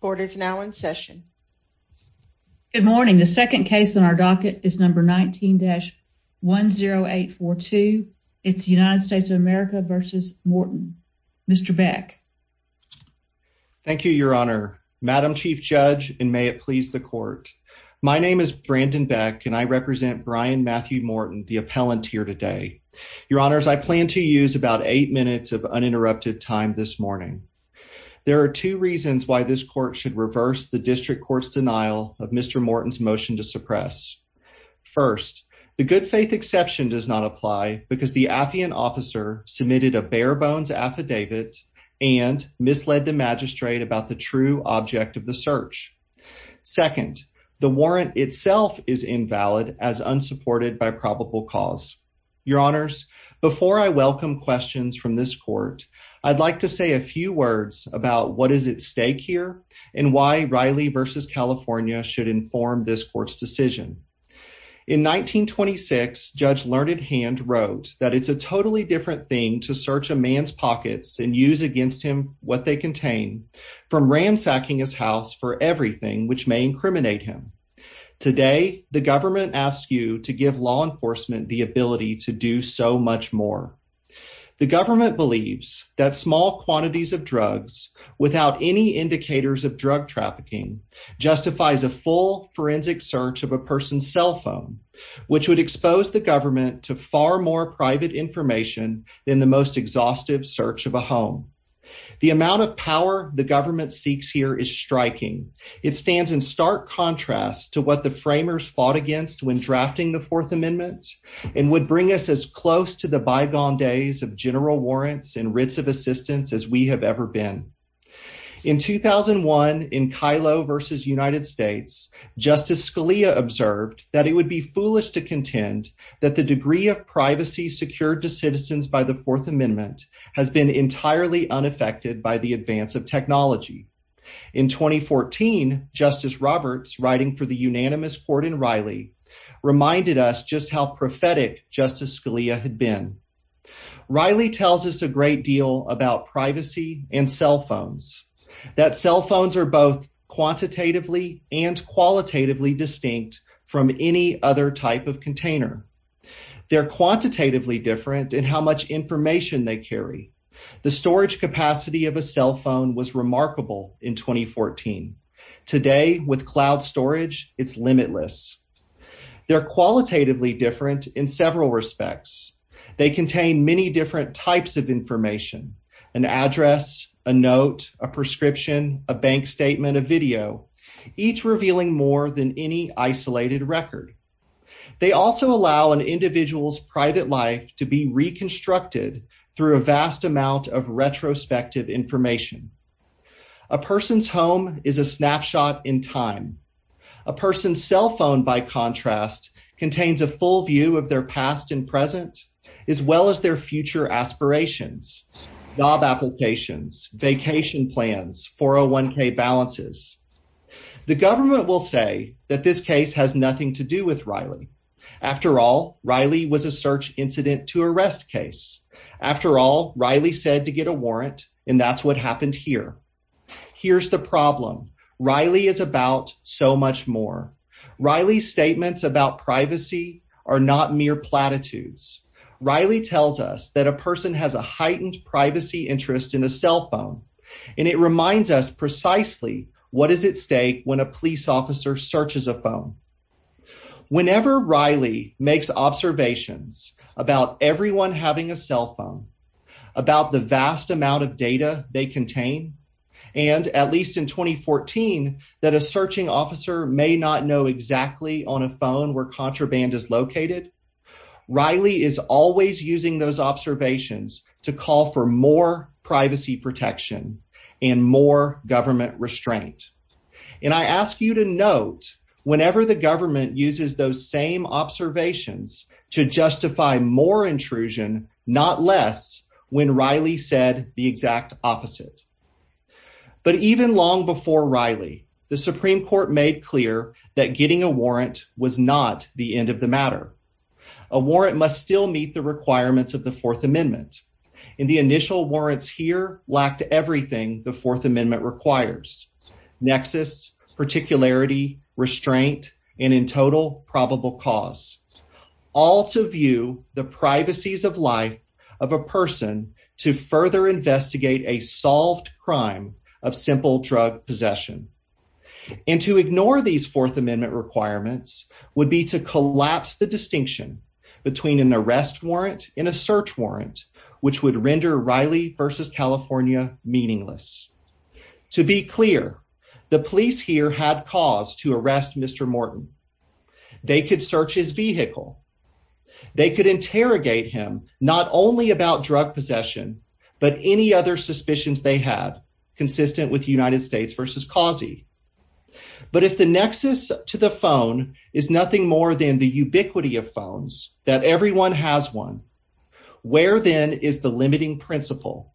court is now in session. Good morning. The second case in our docket is number 19-10842. It's the United States of America versus Morton. Mr Beck. Thank you, Your Honor. Madam Chief Judge and may it please the court. My name is Brandon Beck and I represent Brian Matthew Morton, the appellant here today. Your honors, I plan to use about eight minutes of uninterrupted time this morning. There are two reasons why this court should reverse the district court's denial of Mr Morton's motion to suppress. First, the good faith exception does not apply because the Affian officer submitted a bare bones affidavit and misled the magistrate about the true object of the search. Second, the warrant itself is invalid as unsupported by probable cause. Your say a few words about what is at stake here and why Riley versus California should inform this court's decision. In 1926, Judge Learned Hand wrote that it's a totally different thing to search a man's pockets and use against him what they contain from ransacking his house for everything which may incriminate him. Today, the government asks you to give law enforcement the ability to do so much more. The government believes that small quantities of drugs without any indicators of drug trafficking justifies a full forensic search of a person's cell phone, which would expose the government to far more private information than the most exhaustive search of a home. The amount of power the government seeks here is striking. It stands in stark contrast to what the framers fought against when drafting the Fourth Amendment and would bring us as close to the bygone days of general warrants and writs of assistance as we have ever been. In 2001, in Kylo versus United States, Justice Scalia observed that it would be foolish to contend that the degree of privacy secured to citizens by the Fourth Amendment has been entirely unaffected by the advance of technology. In 2014, Justice Roberts, writing for the unanimous court in Riley, reminded us just how prophetic Justice Scalia had been. Riley tells us a great deal about privacy and cell phones, that cell phones are both quantitatively and qualitatively distinct from any other type of container. They're quantitatively different in how much information they carry. The storage capacity of a cell They're qualitatively different in several respects. They contain many different types of information, an address, a note, a prescription, a bank statement, a video, each revealing more than any isolated record. They also allow an individual's private life to be reconstructed through a vast amount of retrospective information. A person's home is a snapshot in time. A person's home, by contrast, contains a full view of their past and present, as well as their future aspirations, job applications, vacation plans, 401k balances. The government will say that this case has nothing to do with Riley. After all, Riley was a search incident to arrest case. After all, Riley said to get a warrant, and that's what happened here. Here's the problem. Riley is about so much more. Riley's statements about privacy are not mere platitudes. Riley tells us that a person has a heightened privacy interest in a cell phone, and it reminds us precisely what is at stake when a police officer searches a phone. Whenever Riley makes observations about everyone having a cell phone, about the officer may not know exactly on a phone where contraband is located. Riley is always using those observations to call for more privacy protection and more government restraint. And I ask you to note, whenever the government uses those same observations to justify more intrusion, not less, when Riley said the made clear that getting a warrant was not the end of the matter. A warrant must still meet the requirements of the Fourth Amendment, and the initial warrants here lacked everything the Fourth Amendment requires nexus, particularity, restraint and in total probable cause all to view the privacies of life of a person to further investigate a solved crime of simple drug possession. And to ignore these Fourth Amendment requirements would be to collapse the distinction between an arrest warrant in a search warrant, which would render Riley versus California meaningless. To be clear, the police here had cause to arrest Mr Morton. They could search his vehicle. They could interrogate him not only about drug possession, but any other suspicions they had consistent with United States versus causey. But if the nexus to the phone is nothing more than the ubiquity of phones that everyone has one, where then is the limiting principle?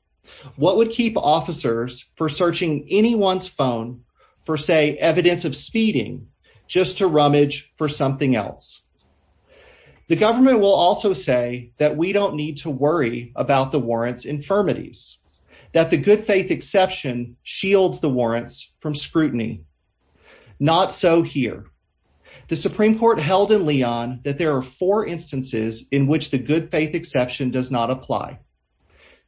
What would keep officers for searching anyone's phone for, say, evidence of speeding just to rummage for something else? The government will also say that we don't need to worry about the warrants infirmities that the good faith exception shields the warrants from scrutiny. Not so here. The Supreme Court held in Leon that there are four instances in which the good faith exception does not apply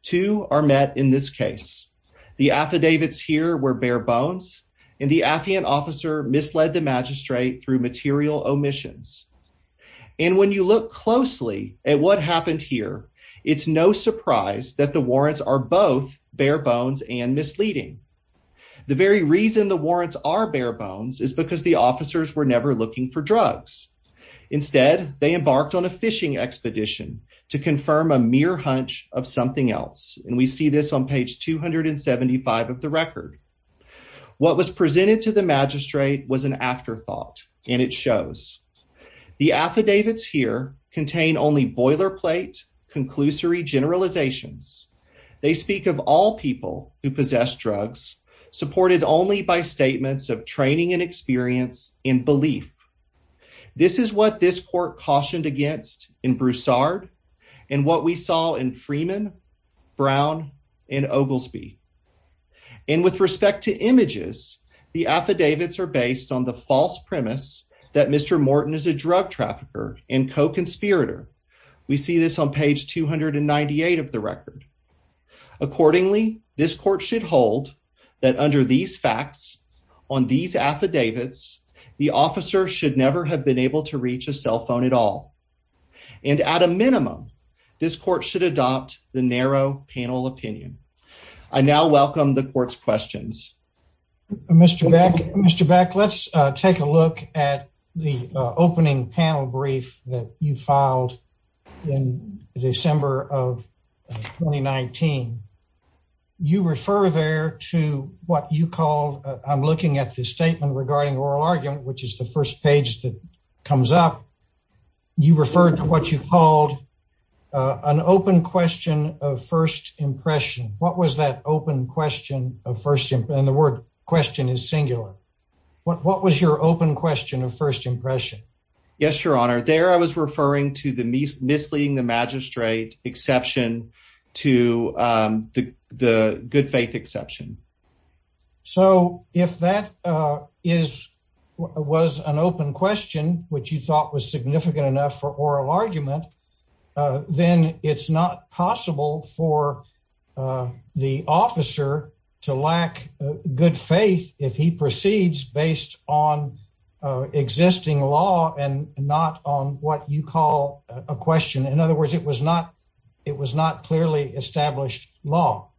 to are met. In this case, the affidavits here were bare bones, and the Afghan officer misled the magistrate through material omissions. And when you look closely at what happened here, it's no surprise that the warrants are both bare bones and misleading. The very reason the warrants are bare bones is because the officers were never looking for drugs. Instead, they embarked on a fishing expedition to confirm a mere hunch of something else. And we see this on page 275 of the record. What was presented to the magistrate was an afterthought, and it shows the affidavits here contain only boilerplate conclusory generalizations. They speak of all people who possess drugs, supported only by statements of training and experience in belief. This is what this court cautioned against in Broussard and what we saw in Freeman, Brown and Oglesby. And with respect to images, the affidavits are based on the false premise that Mr Morton is a drug trafficker and co conspirator. We see this on page 298 of the record. Accordingly, this court should hold that under these facts on these affidavits, the officer should never have been able to reach a cell phone at all. And at a minimum, this court should adopt the narrow panel opinion. I now welcome the court's questions. Mr Beck, Mr Beck, let's take a look at the opening panel brief that you filed in December of 2019. You refer there to what you called. I'm looking at this statement regarding oral argument, which is the first page that comes up. You referred to what you called on open question of first impression. What was that open question of first? And the word question is singular. What was your open question of first impression? Yes, Your Honor. There I was referring to the misleading the magistrate exception to, um, the good faith exception. So if that, uh, is was an open question which you thought was significant enough for oral argument, then it's not possible for, uh, the officer to lack good faith if he proceeds based on existing law and not on what you call a question. In other words, it was not. It was not clearly established law,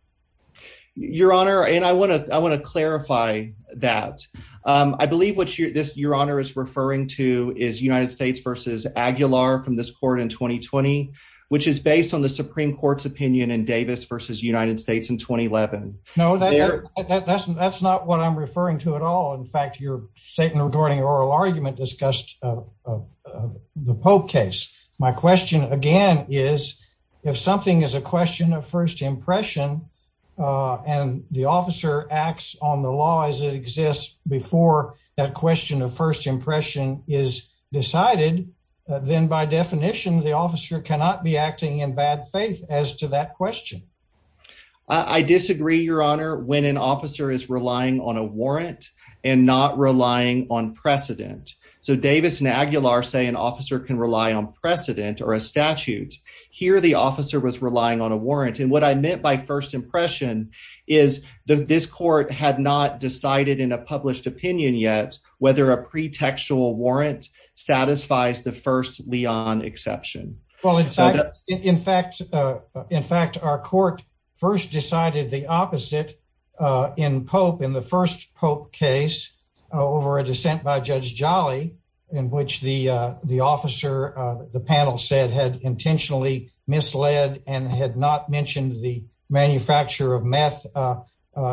Your Honor. And I want to I want to clarify that. I believe what your honor is referring to is United States versus Aguilar from this court in 2020, which is based on the Supreme Court's opinion in Davis versus United States in 2011. No, that's that's not what I'm referring to at all. In fact, your statement regarding oral argument discussed, uh, the pope case. My question again is if something is a question of first impression, uh, and the officer acts on the law as it then, by definition, the officer cannot be acting in bad faith as to that question. I disagree, Your Honor. When an officer is relying on a warrant and not relying on precedent. So Davis and Aguilar say an officer can rely on precedent or a statute. Here the officer was relying on a warrant. And what I meant by first impression is that this court had not decided in a first Leon exception. Well, in fact, in fact, in fact, our court first decided the opposite in Pope in the first Pope case over a dissent by Judge Jolly, in which the officer, the panel said, had intentionally misled and had not mentioned the manufacture of meth, uh,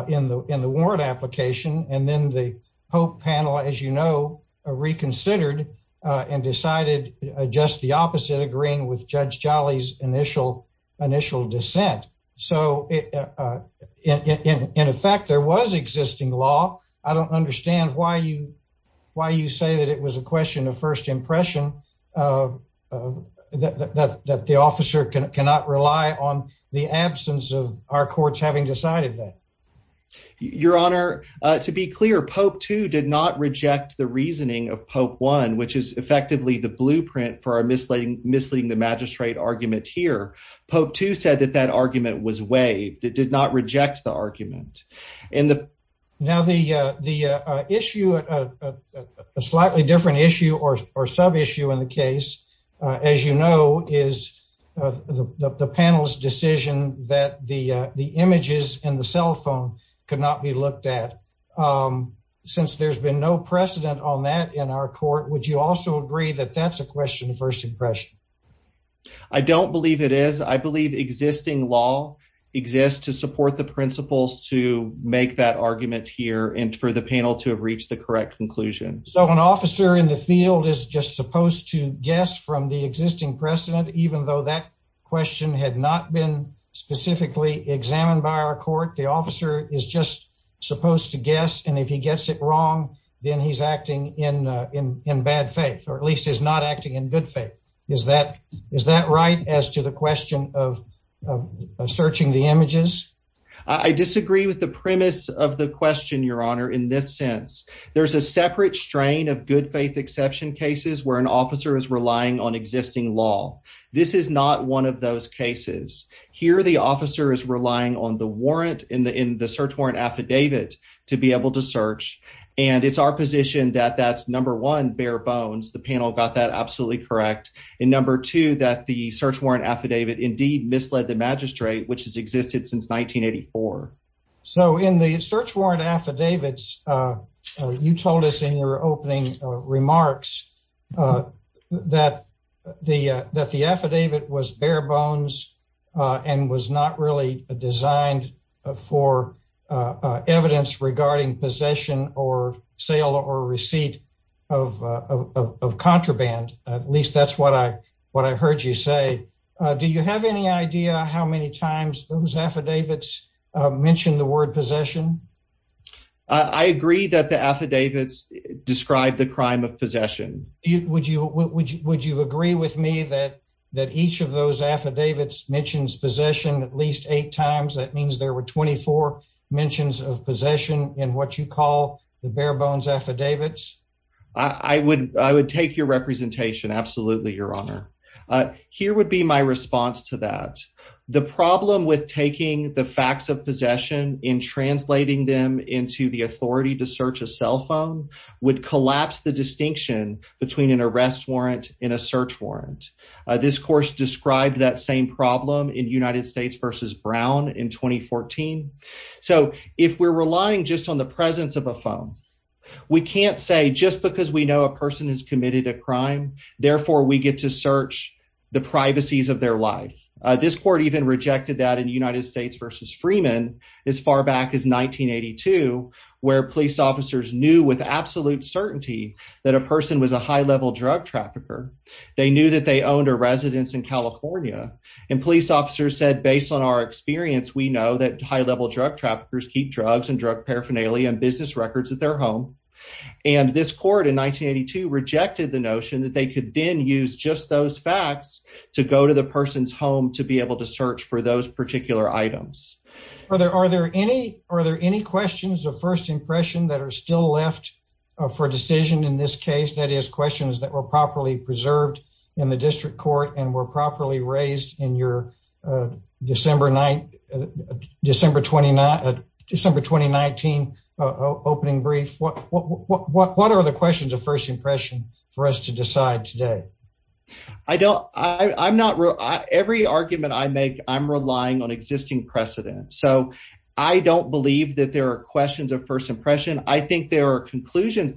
in the in the warrant application. And decided just the opposite, agreeing with Judge Jolly's initial initial dissent. So, uh, in effect, there was existing law. I don't understand why you why you say that it was a question of first impression, uh, that the officer cannot rely on the absence of our courts having decided that your honor. To be clear, Pope to did not reject the reasoning of Pope one, which is effectively the blueprint for our misleading, misleading the magistrate argument here. Pope to said that that argument was way that did not reject the argument in the now the issue, a slightly different issue or sub issue in the case, as you know, is the panel's decision that the images in the cell phone could not be looked at. Um, since there's been no precedent on that in our court, would you also agree that that's a question of first impression? I don't believe it is. I believe existing law exists to support the principles to make that argument here and for the panel to have reached the correct conclusion. So an officer in the field is just supposed to guess from the existing precedent. Even though that question had not been specifically examined by our court, the officer is just supposed to guess. And if he gets it wrong, then he's acting in in in bad faith, or at least is not acting in good faith. Is that is that right? As to the question of searching the images, I disagree with the premise of the question, your honor. In this sense, there's a separate strain of good faith exception cases where an officer is relying on existing law. This is not one of those cases here. The officer is relying on the warrant in the in the search warrant affidavit to be able to search. And it's our position that that's number one bare bones. The panel got that absolutely correct in number two, that the search warrant affidavit indeed misled the magistrate, which has existed since 1984. So in the search warrant affidavits, uh, you told us in your opening remarks, uh, that the that the affidavit was bare bones on was not really designed for evidence regarding possession or sale or receipt of of contraband. At least that's what I what I heard you say. Do you have any idea how many times those affidavits mentioned the word possession? I agree that the affidavits describe the crime of possession. Would you would you would you agree with me that that each of those affidavits mentions possession at least eight times? That means there were 24 mentions of possession in what you call the bare bones affidavits. I would I would take your representation. Absolutely, Your Honor. Here would be my response to that. The problem with taking the facts of possession in translating them into the authority to search a cell phone would collapse the distinction between an arrest warrant in a search warrant. This course described that same problem in United in 2014. So if we're relying just on the presence of a phone, we can't say just because we know a person has committed a crime. Therefore, we get to search the privacies of their life. This court even rejected that in United States versus Freeman as far back as 1982, where police officers knew with absolute certainty that a person was a high level drug trafficker. They knew that they owned a residence in California, and police officers said, based on our experience, we know that high level drug traffickers keep drugs and drug paraphernalia and business records at their home. And this court in 1982 rejected the notion that they could then use just those facts to go to the person's home to be able to search for those particular items. Are there? Are there any? Are there any questions of first impression that air still left for decision? In this case, that is questions that were properly preserved in the district court and were properly raised in your December night, December 29 December 2019 opening brief. What? What? What? What? What are the questions of first impression for us to decide today? I don't I'm not every argument I make. I'm relying on existing precedent, so I don't believe that there are questions of first impression. I think there are reached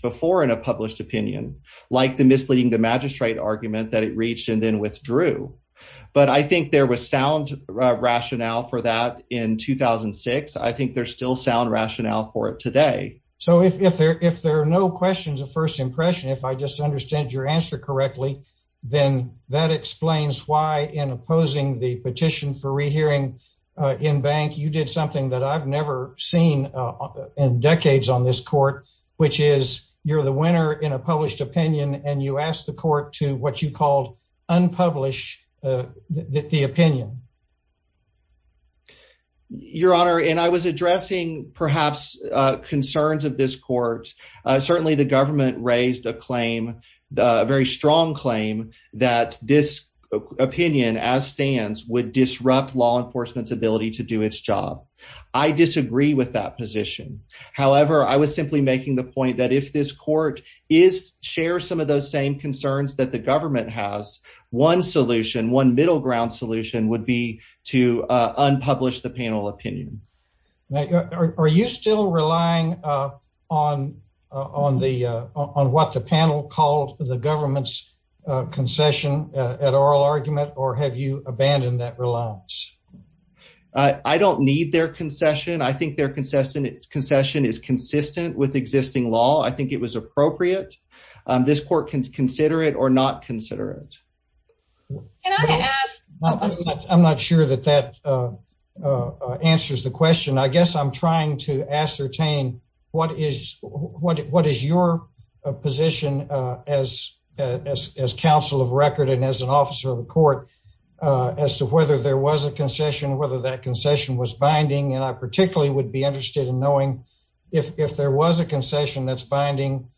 before in a published opinion, like the misleading the magistrate argument that it reached and then withdrew. But I think there was sound rationale for that in 2006. I think there's still sound rationale for it today. So if there if there are no questions of first impression, if I just understand your answer correctly, then that explains why, in opposing the petition for rehearing in bank, you did something that I've never seen in you're the winner in a published opinion, and you asked the court to what you called unpublished the opinion. Your Honor, and I was addressing perhaps concerns of this court. Certainly the government raised a claim, a very strong claim that this opinion as stands would disrupt law enforcement's ability to do its job. I disagree with that position. However, I was simply making the point that if this court is share some of those same concerns that the government has one solution, one middle ground solution would be to unpublished the panel opinion. Are you still relying on on the on what the panel called the government's concession at oral argument? Or have you abandoned that reliance? I don't need their concession. I think they're consistent. Concession is consistent with existing law. I think it was appropriate. This court can consider it or not consider it. Can I ask? I'm not sure that that, uh, answers the question. I guess I'm trying to ascertain what is what? What is your position as a council of record and as an officer of the court as to whether there was a concession, whether that concession was binding, and I particularly would be interested in knowing if there was a concession that's binding.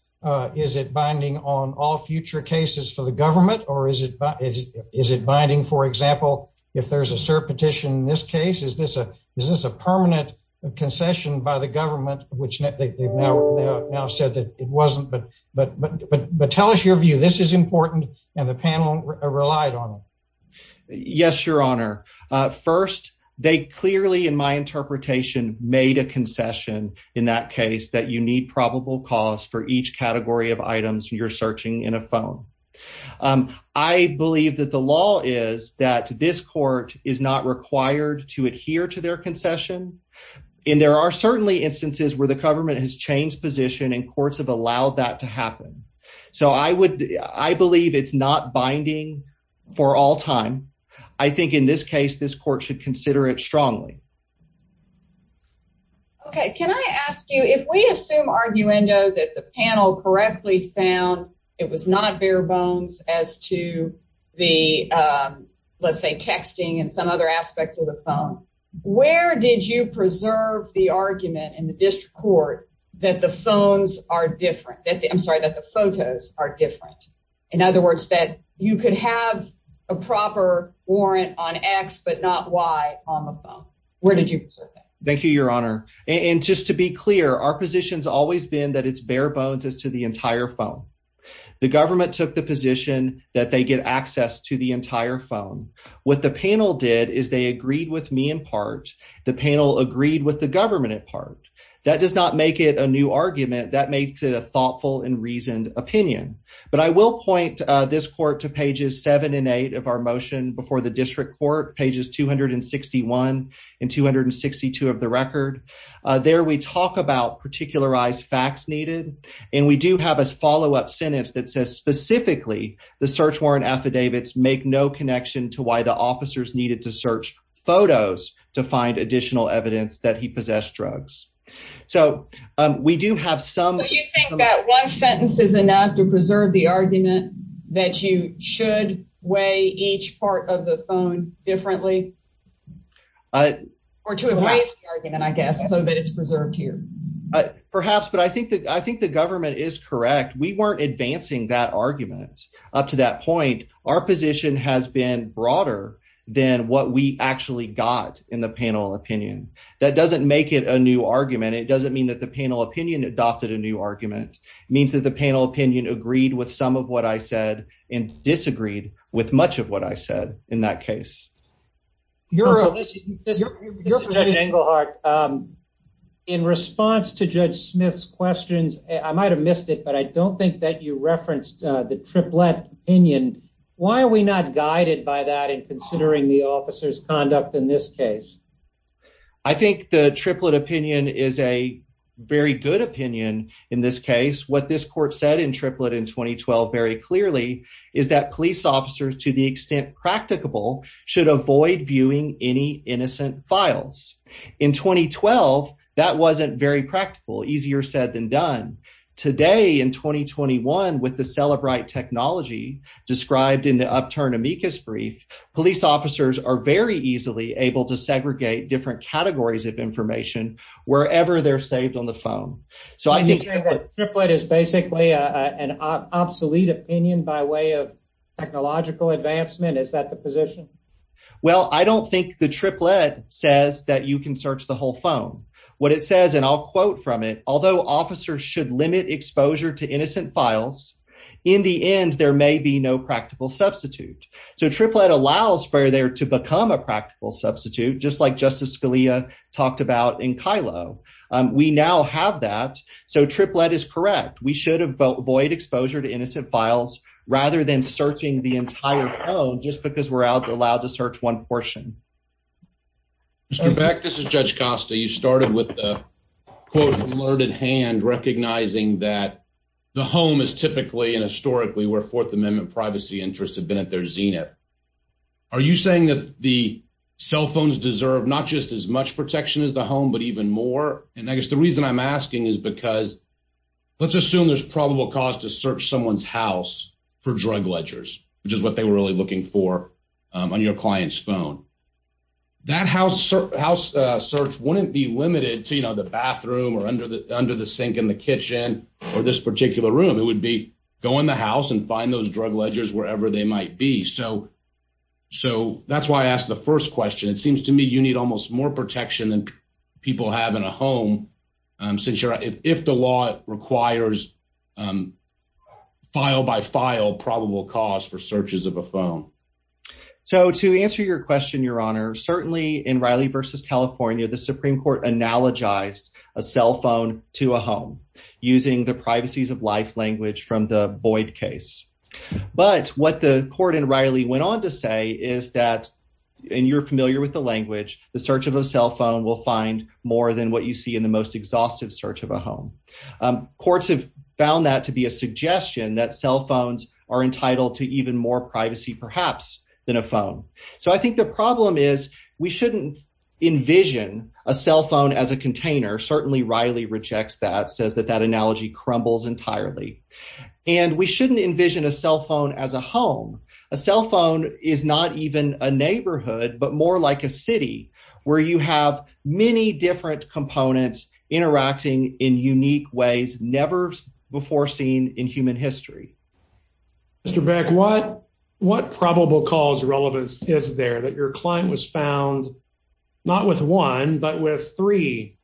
Is it binding on all future cases for the government? Or is it? Is it binding? For example, if there's a cert petition in this case, is this a Is this a permanent concession by the government, which they now said that it wasn't? But but tell us your view. This is important, and the panel relied on. Yes, Your Honor. First, they clearly, in my interpretation, made a concession in that case that you need probable cause for each category of items you're searching in a phone. Um, I believe that the law is that this court is not required to adhere to their concession. And there are certainly instances where the government has changed position and courts have allowed that to happen. So I would. I believe it's not binding for all time. I think in this case, this court should consider it strongly. Okay. Can I ask you if we assume argue endo that the panel correctly found it was not bare bones as to the, um, let's say, texting and some other aspects of the phone. Where did you preserve the argument in the district court that the phones are different that I'm sorry that the photos are different? In other have a proper warrant on X, but not Y on the phone. Where did you? Thank you, Your Honor. And just to be clear, our positions always been that it's bare bones as to the entire phone. The government took the position that they get access to the entire phone. What the panel did is they agreed with me. In part, the panel agreed with the government. In part, that does not make it a new argument that makes it a thoughtful and reasoned opinion. But I will point this court to pages seven and eight of our motion before the district court pages 261 and 262 of the record. There we talk about particularized facts needed, and we do have a follow up sentence that says specifically the search warrant affidavits make no connection to why the officers needed to search photos to find additional evidence that he possessed drugs. So we do have some. You think that one sentence is enough to mean that you should weigh each part of the phone differently? Uh, or two of my argument, I guess, so that it's preserved here, perhaps. But I think that I think the government is correct. We weren't advancing that argument up to that point. Our position has been broader than what we actually got in the panel opinion. That doesn't make it a new argument. It doesn't mean that the panel opinion adopted a new argument means that the panel opinion agreed with some of what I said and disagreed with much of what I said. In that case, you're a listen. This is your heart. Um, in response to Judge Smith's questions, I might have missed it, but I don't think that you referenced the triplet opinion. Why are we not guided by that? And considering the officer's conduct in this case, I think the triplet opinion is a very good opinion. In this case, what this court said in triplet in 2012 very clearly is that police officers, to the extent practicable, should avoid viewing any innocent files in 2012. That wasn't very practical. Easier said than done today in 2021 with the celebrate technology described in the upturn amicus brief, police officers are very easily able to segregate different triplet is basically an obsolete opinion by way of technological advancement. Is that the position? Well, I don't think the triplet says that you can search the whole phone. What it says, and I'll quote from it. Although officers should limit exposure to innocent files in the end, there may be no practical substitute. So triplet allows for there to become a practical substitute, just like Justice Scalia talked about in Kylo. We now have that. So triplet is correct. We should have void exposure to innocent files rather than searching the entire phone just because we're out allowed to search one portion. Mr Back, this is Judge Costa. You started with the court alerted hand recognizing that the home is typically and historically where Fourth Amendment privacy interests have been at their zenith. Are you saying that the cell phones deserve not just as much protection is the home, but even more? And I guess the reason I'm asking is because let's assume there's probable cause to search someone's house for drug ledgers, which is what they were really looking for on your client's phone. That house house search wouldn't be limited to, you know, the bathroom or under the under the sink in the kitchen or this particular room. It would be go in the house and find those drug ledgers wherever they might be. So So that's why I asked the first question. It seems to me you need almost more protection than people have in a home since you're if the law requires, um, file by file probable cause for searches of a phone. So to answer your question, Your Honor, certainly in Riley versus California, the Supreme Court analogized a cell phone to a home using the privacies of life language from the Boyd case. But what the court in Riley went on to say is that and you're familiar with the language, the search of a cell phone will find more than what you see in the most exhaustive search of a home. Um, courts have found that to be a suggestion that cell phones are entitled to even more privacy, perhaps than a phone. So I think the problem is we shouldn't envision a cell phone as a container. Certainly Riley rejects that says that that analogy crumbles entirely, and we shouldn't envision a cell phone as a home. A cell phone is not even a neighborhood, but more like a city where you have many different components interacting in unique ways never before seen in human history. Mr Beck, what what probable cause relevance is there that your client was found not with one but with three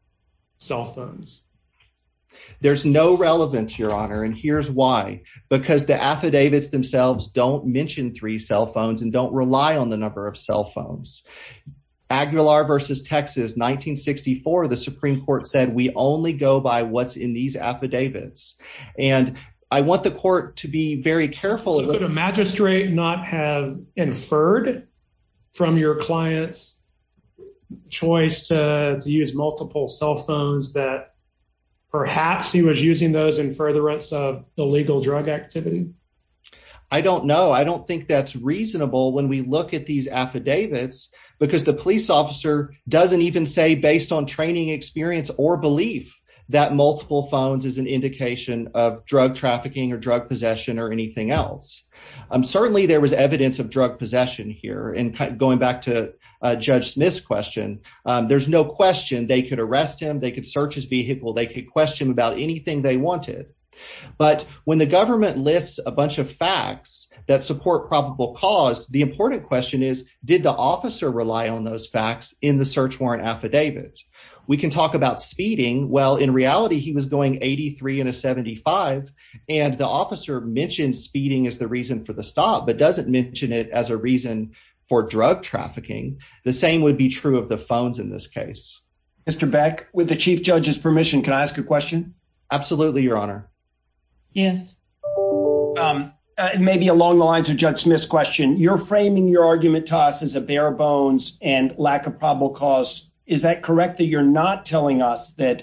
cell phones? There's no relevance, Your Honor. And here's why. Because the affidavits themselves don't mention three cell phones and don't rely on the number of cell phones. Aguilar versus Texas 1964. The Supreme Court said we only go by what's in these affidavits, and I want the court to be very careful of the magistrate not have inferred from your client's choice to use multiple cell phones that perhaps he was using those in furtherance of illegal drug activity. I don't know. I don't think that's reasonable when we look at these affidavits because the police officer doesn't even say based on training experience or belief that multiple phones is an indication of drug trafficking or drug possession or anything else. Certainly there was Smith's question. There's no question they could arrest him. They could search his vehicle. They could question about anything they wanted. But when the government lists a bunch of facts that support probable cause, the important question is, did the officer rely on those facts in the search warrant affidavit? We can talk about speeding. Well, in reality, he was going 83 in a 75, and the officer mentioned speeding is the reason for the stop, but doesn't mention it as a reason for drug trafficking. The same would be true of the phones. In this case, Mr Beck, with the chief judge's permission, can I ask a question? Absolutely, Your Honor. Yes. Um, maybe along the lines of Judge Smith's question, you're framing your argument to us is a bare bones and lack of probable cause. Is that correct that you're not telling us that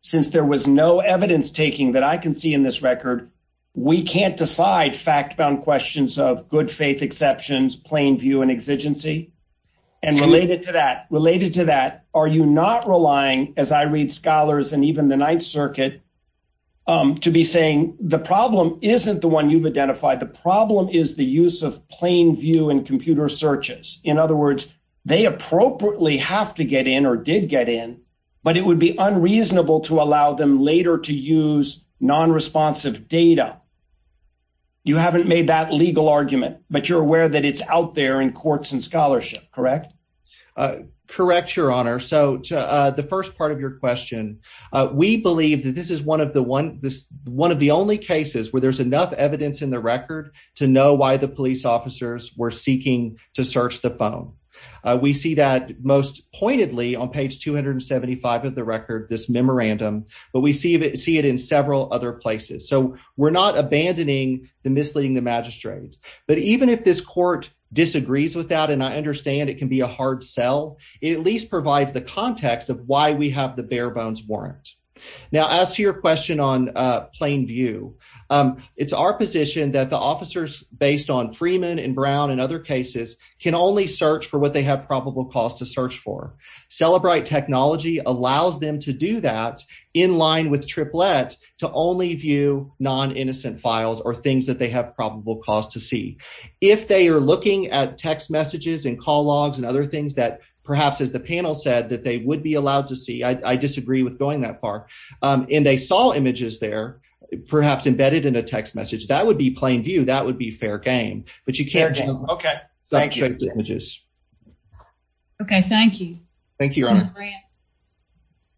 since there was no evidence taking that I can see in this record, we can't decide fact questions of good faith exceptions, plain view and exigency. And related to that related to that, are you not relying as I read scholars and even the Ninth Circuit to be saying the problem isn't the one you've identified. The problem is the use of plain view and computer searches. In other words, they appropriately have to get in or did get in, but it would be unreasonable to allow them later to use non responsive data. You haven't made that legal argument, but you're aware that it's out there in courts and scholarship. Correct? Uh, correct, Your Honor. So, uh, the first part of your question, we believe that this is one of the one this one of the only cases where there's enough evidence in the record to know why the police officers were seeking to search the phone. We see that most pointedly on page 275 of the record this memorandum, but we see it see it in several other places. So we're not abandoning the misleading the magistrates. But even if this court disagrees with that, and I understand it can be a hard sell, it at least provides the context of why we have the bare bones warrant. Now, as to your question on plain view, it's our position that the officers based on Freeman and Brown and other cases can only search for what they have probable cause to search for. Celebrate technology allows them to do that in line with triplet to only view non innocent files or things that they have probable cause to see if they're looking at text messages and call logs and other things that perhaps, as the panel said that they would be allowed to see. I disagree with going that far. Um, and they saw images there, perhaps embedded in a text message. That would be plain view. That would be fair game. But you can't. Okay, thank you. Okay, thank you. Thank you.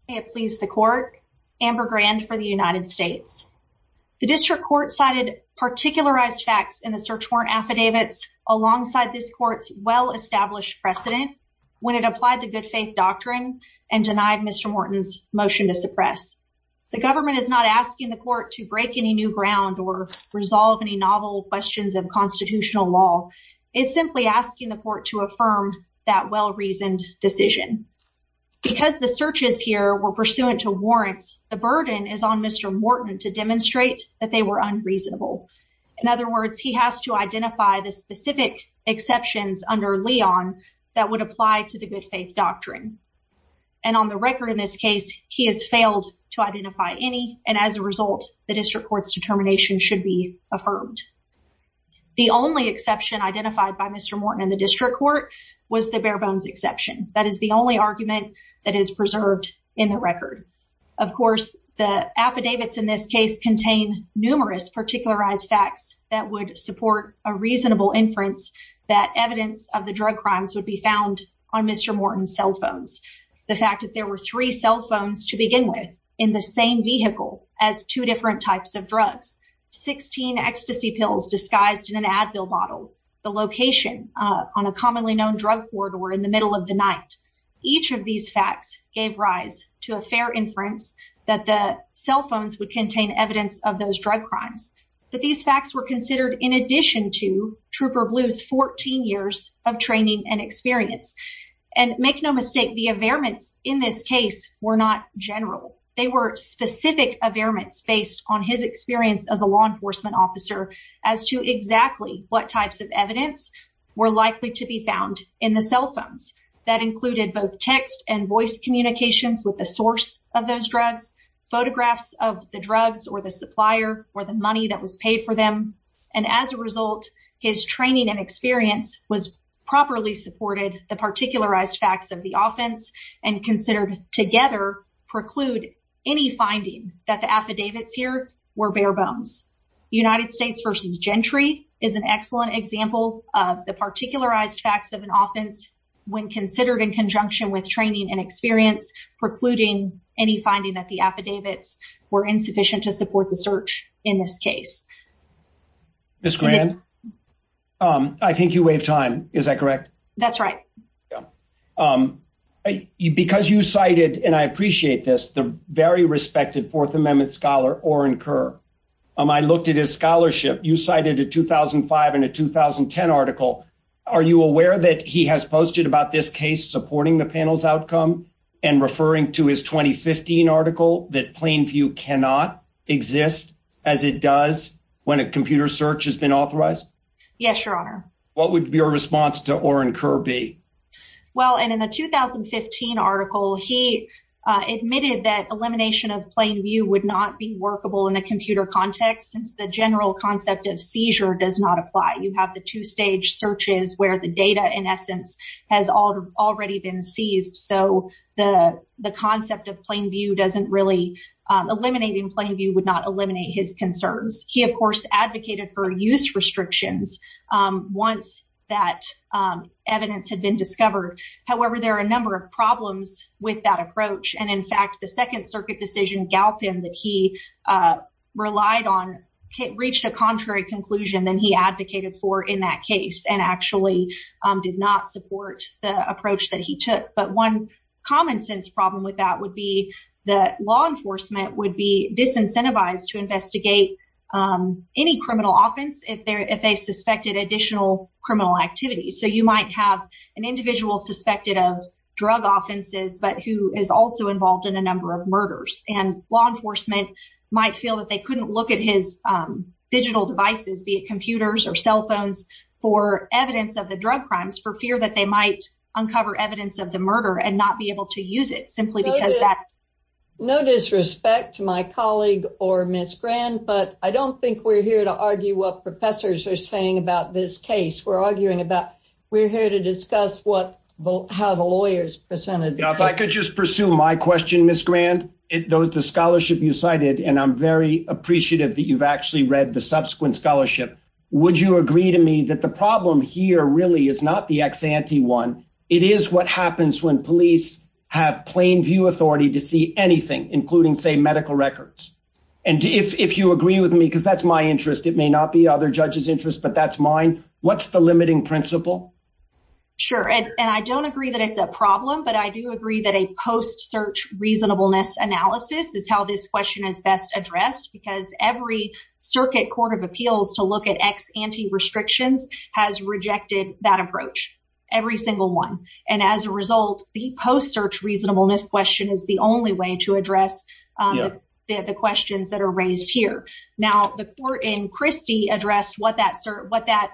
It pleased the court. Amber Grand for the United States. The district court cited particularized facts in the search warrant affidavits alongside this court's well established precedent when it applied the good faith doctrine and denied Mr Morton's motion to suppress. The government is not asking the court to break any new ground or resolve any novel questions of constitutional law. It's simply asking the court to affirm that well reasoned decision because the searches here were pursuant to warrants. The burden is on Mr Morton to demonstrate that they were unreasonable. In other words, he has to identify the specific exceptions under Leon that would apply to the good faith doctrine. And on the record in this case, he has failed to identify any. And as a result, the district court's determination should be affirmed. The only exception identified by Mr Morton in the district court was the bare bones exception. That is the only argument that is preserved in the record. Of course, the affidavits in this case contain numerous particularized facts that would support a reasonable inference that evidence of the drug crimes would be found on Mr Morton's three cell phones to begin with in the same vehicle as two different types of drugs, 16 ecstasy pills disguised in an Advil bottle, the location on a commonly known drug court or in the middle of the night. Each of these facts gave rise to a fair inference that the cell phones would contain evidence of those drug crimes, that these facts were considered in addition to Trooper Blue's 14 years of general. They were specific of airments based on his experience as a law enforcement officer as to exactly what types of evidence were likely to be found in the cell phones that included both text and voice communications with the source of those drugs, photographs of the drugs or the supplier or the money that was paid for them. And as a result, his training and experience was properly supported the particularized facts of the offense and considered together preclude any finding that the affidavits here were bare bones. United States versus Gentry is an excellent example of the particularized facts of an offense when considered in conjunction with training and experience precluding any finding that the affidavits were insufficient to support the search in this case. This grand. Um, I think you waive time. Is that correct? That's right. Um, because you cited and I appreciate this, the very respected Fourth Amendment scholar or incur. Um, I looked at his scholarship. You cited a 2005 and a 2010 article. Are you aware that he has posted about this case supporting the panel's outcome and referring to his 2015 article that plain view cannot exist as it does when a computer search has been authorized? Yes, your honor. What would be a response to or incur be? Well, and in the 2015 article, he admitted that elimination of plain view would not be workable in the computer context. Since the general concept of seizure does not apply, you have the two stage searches where the data in essence has already been seized. So the concept of plain view doesn't really eliminating plain view would not eliminate his concerns. He, of course, advocated for use restrictions once that evidence had been discovered. However, there are a number of problems with that approach. And in fact, the Second Circuit decision Galpin that he, uh, relied on reached a contrary conclusion than he advocated for in that case and actually did not support the approach that he took. But one common sense problem with that would be the law enforcement would be disincentivized to investigate, um, any criminal offense if they're if they suspected additional criminal activity. So you might have an individual suspected of drug offenses, but who is also involved in a number of murders and law enforcement might feel that they couldn't look at his, um, digital devices, be it computers or cell phones for evidence of the drug crimes for fear that they might uncover evidence of the murder and not be able to use it simply because that no disrespect to my colleague or Miss Grand. But I don't think we're here to argue what professors are saying about this case. We're arguing about. We're here to discuss what how the lawyers presented. If I could just pursue my question, Miss Grand, those the scholarship you cited, and I'm very appreciative that you've actually read the subsequent scholarship. Would you agree to me that the problem here really is not the ex ante one? It is what happens when police have plain view authority to see anything, including, say, medical records. And if you agree with me, because that's my interest, it may not be other judges interest, but that's mine. What's the limiting principle? Sure. And I don't agree that it's a problem, but I do agree that a post search reasonableness analysis is how this question is best addressed, because every circuit court of appeals to look at ex ante restrictions has rejected that approach every single one. And as a result, the post search reasonableness question is the only way to address the questions that are raised here. Now, the court in Christie addressed what that what that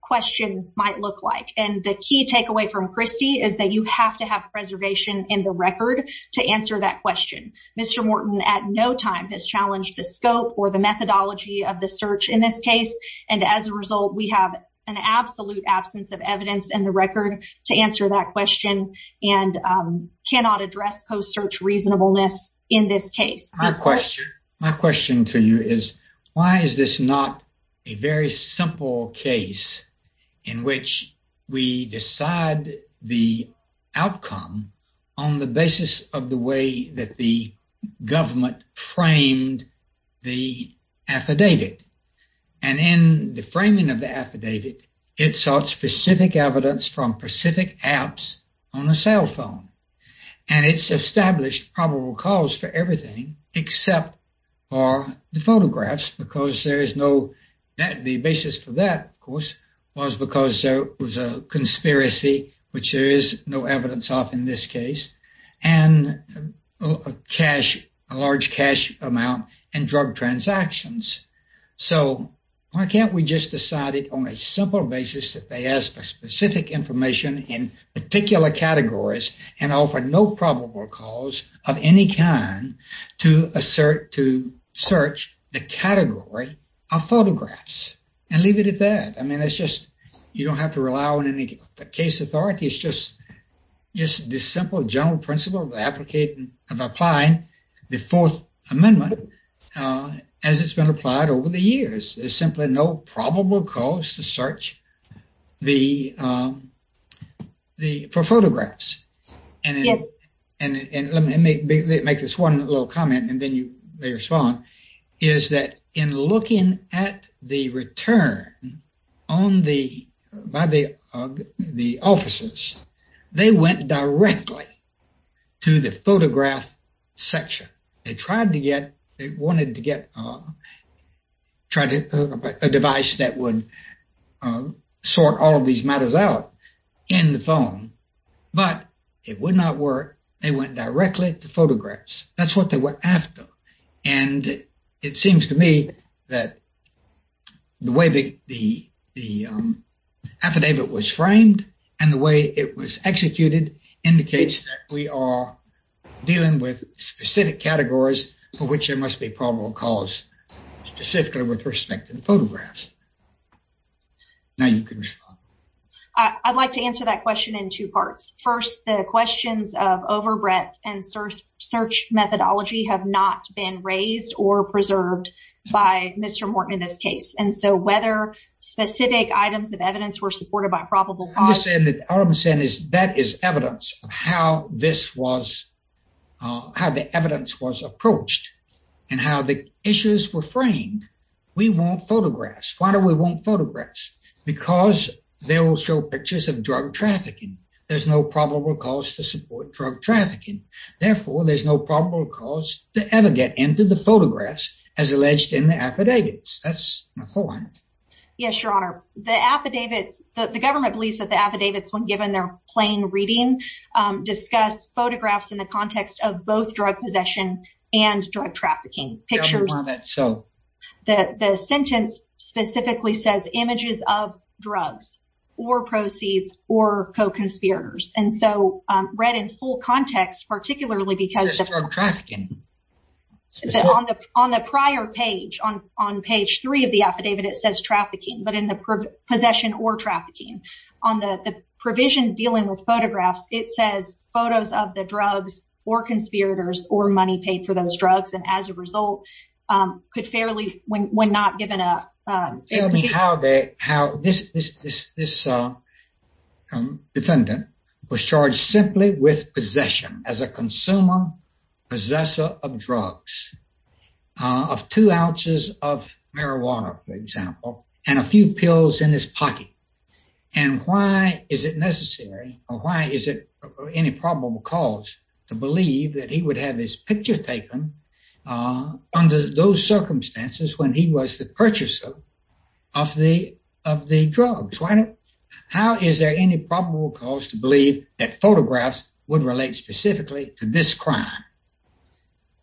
question might look like. And the key takeaway from Christie is that you have to have preservation in the record to answer that question. Mr Morton at no time has challenged the scope or the methodology of the search in this case, and as a result, we have an absolute absence of evidence in the record to answer that question and cannot address post search reasonableness in this case. My question to you is why is this not a very simple case in which we decide the outcome on the basis of the way that the government framed the affidavit? And in the framing of the affidavit, it sought specific evidence from specific apps on a cell phone, and it's established probable cause for everything except for the photographs, because there is no that the basis for that, of course, was a conspiracy, which there is no evidence of in this case, and a large cash amount and drug transactions. So why can't we just decide it on a simple basis that they ask for specific information in particular categories and offer no probable cause of any kind to assert to search the category of photographs and leave it at that? I mean, it's just you don't have to rely on any case authority. It's just this simple general principle of applying the Fourth Amendment as it's been applied over the years. There's simply no probable cause to search for photographs. And let me make this one little comment and then you may respond, is that in looking at the return by the officers, they went directly to the photograph section. They tried to get, they wanted to get a device that would sort all of these matters out in the phone, but it would not work. They went directly to the way that the affidavit was framed and the way it was executed indicates that we are dealing with specific categories for which there must be probable cause, specifically with respect to the photographs. Now you can respond. I'd like to answer that question in two parts. First, the questions of over breadth and search methodology have not been raised or whether specific items of evidence were supported by probable cause. I'm just saying that all I'm saying is that is evidence of how this was, how the evidence was approached and how the issues were framed. We want photographs. Why do we want photographs? Because they will show pictures of drug trafficking. There's no probable cause to support drug trafficking. Therefore, there's no probable cause to ever get into the photographs as Yes, Your Honor. The affidavits, the government believes that the affidavits when given their plain reading, discuss photographs in the context of both drug possession and drug trafficking pictures. So the sentence specifically says images of drugs or proceeds or co-conspirators. And so read in full context, particularly because on the prior page on page three of the affidavit, it says trafficking, but in the possession or trafficking on the provision dealing with photographs, it says photos of the drugs or conspirators or money paid for those drugs. And as a result, um, could fairly when not given a, um, tell me how they, how this, this, this, this, uh, defendant was charged simply with possession as a consumer, possessor of drugs, uh, of two ounces of marijuana, for example, and a few pills in his pocket. And why is it necessary or why is it any probable cause to believe that he would have his picture taken, uh, under those circumstances when he was the purchaser of the, of the drugs? Why not? How is there any probable cause to believe that photographs would relate specifically to this crime?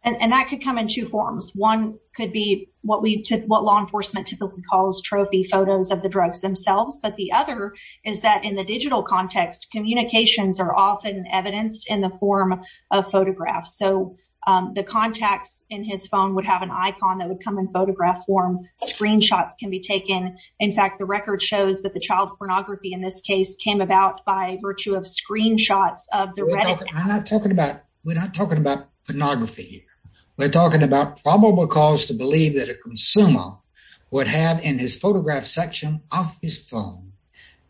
And that could come in two forms. One could be what we took, what law enforcement typically calls trophy photos of the drugs themselves. But the other is that in the digital context, communications are often evidenced in the form of photographs. So, um, the contacts in his phone would have an icon that would come in photograph form. Screenshots can be taken. In fact, the record shows that the child pornography in this case came about by pornography. We're talking about probable cause to believe that a consumer would have in his photograph section of his phone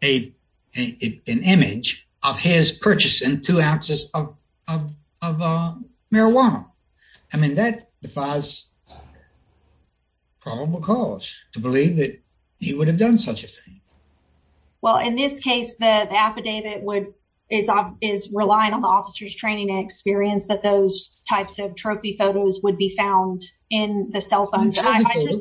a an image of his purchasing two ounces of of of marijuana. I mean, that defies probable cause to believe that he would have done such a thing. Well, in this case, the affidavit would is is relying on the officer's training experience that those types of trophy photos would be found in the cell phones.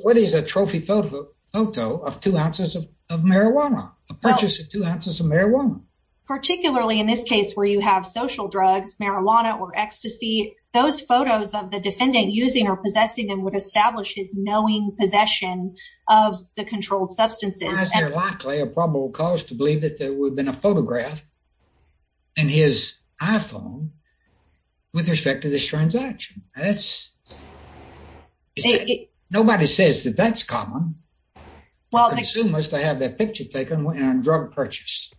What is a trophy photo of two ounces of marijuana? A purchase of two ounces of marijuana, particularly in this case where you have social drugs, marijuana or ecstasy. Those photos of the defendant using or possessing them would establish his knowing possession of the controlled substances. Is there likely a probable cause to believe that there would have been a photograph in his iPhone with respect to this transaction? That's nobody says that that's common. Well, consumers to have that picture taken when drug purchase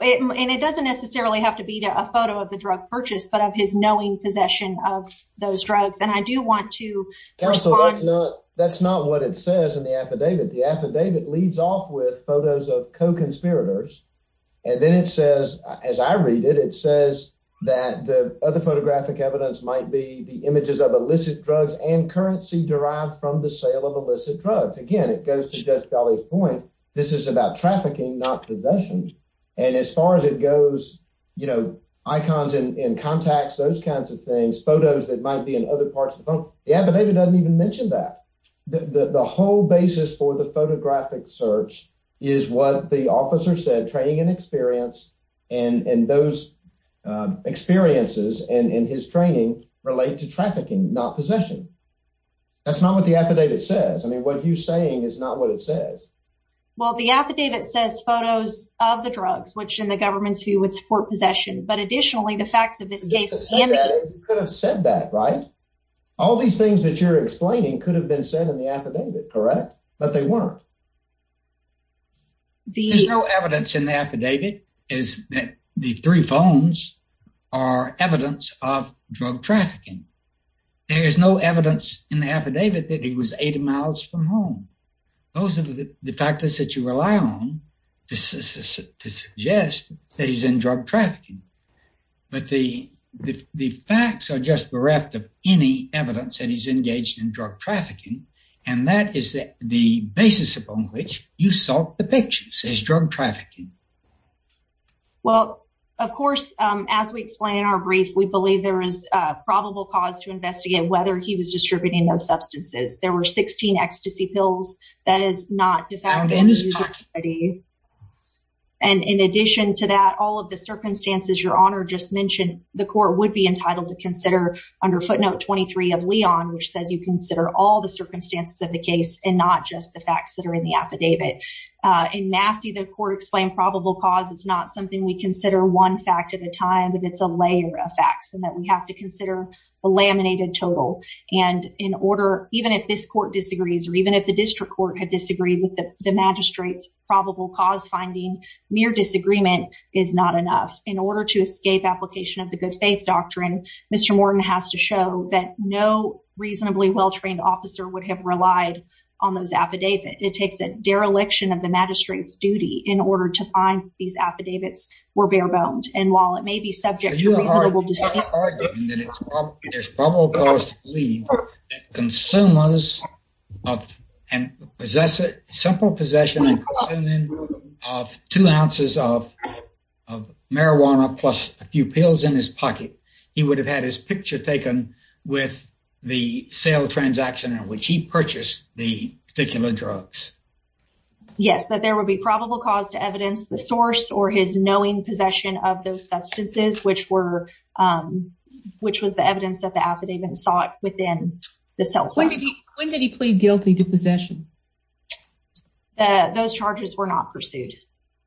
and it doesn't necessarily have to be a photo of the drug purchase, but of his knowing possession of those drugs. And I do want to that's not that's not what it says in the affidavit. The affidavit leads off with photos of co conspirators. And then it says, as I read it, it says that the other photographic evidence might be the images of illicit drugs and currency derived from the sale of illicit drugs. Again, it goes to Judge Kelly's point. This is about trafficking, not possessions. And as far as it goes, you know, icons and contacts, those kinds of things, photos that might be in other parts of the phone. The affidavit doesn't even mention that the whole basis for the photographic search is what the officer said training and experience and those experiences and in his training relate to trafficking, not possession. That's not what the affidavit says. I mean, what you're saying is not what it says. Well, the affidavit says photos of the drugs, which in the government's who would support possession. But additionally, the facts of this case could have said that, right? All these things that you're explaining could have been said in the affidavit, correct? But they weren't. There's no evidence in the affidavit is that the three phones are evidence of drug trafficking. There is no evidence in the affidavit that he was 80 miles from home. Those are the factors that you rely on to suggest that he's in bereft of any evidence that he's engaged in drug trafficking. And that is the basis upon which you saw the picture says drug trafficking. Well, of course, as we explain in our brief, we believe there is probable cause to investigate whether he was distributing those substances. There were 16 ecstasy pills that is not defined in this party. And in addition to that, all of the circumstances your honor just mentioned, the court would be entitled to consider under footnote 23 of Leon, which says you consider all the circumstances of the case and not just the facts that are in the affidavit. In Massey, the court explained probable cause. It's not something we consider one fact at a time, but it's a layer of facts and that we have to consider a laminated total. And in order, even if this court disagrees, or even if the district court had disagreed with the magistrates, probable cause finding mere disagreement is not enough in Mr. Morton has to show that no reasonably well trained officer would have relied on those affidavit. It takes a dereliction of the magistrate's duty in order to find these affidavits were bare boned. And while it may be subject to reasonable consumers and possess it simple possession of two ounces of marijuana plus a few pills in his pocket, he would have had his picture taken with the sale transaction in which he purchased the particular drugs. Yes, that there will be probable cause to evidence the source or his knowing possession of those substances, which were, um, which was the evidence that the affidavit sought within the cell phone. When did he plead guilty to possession? Those charges were not pursued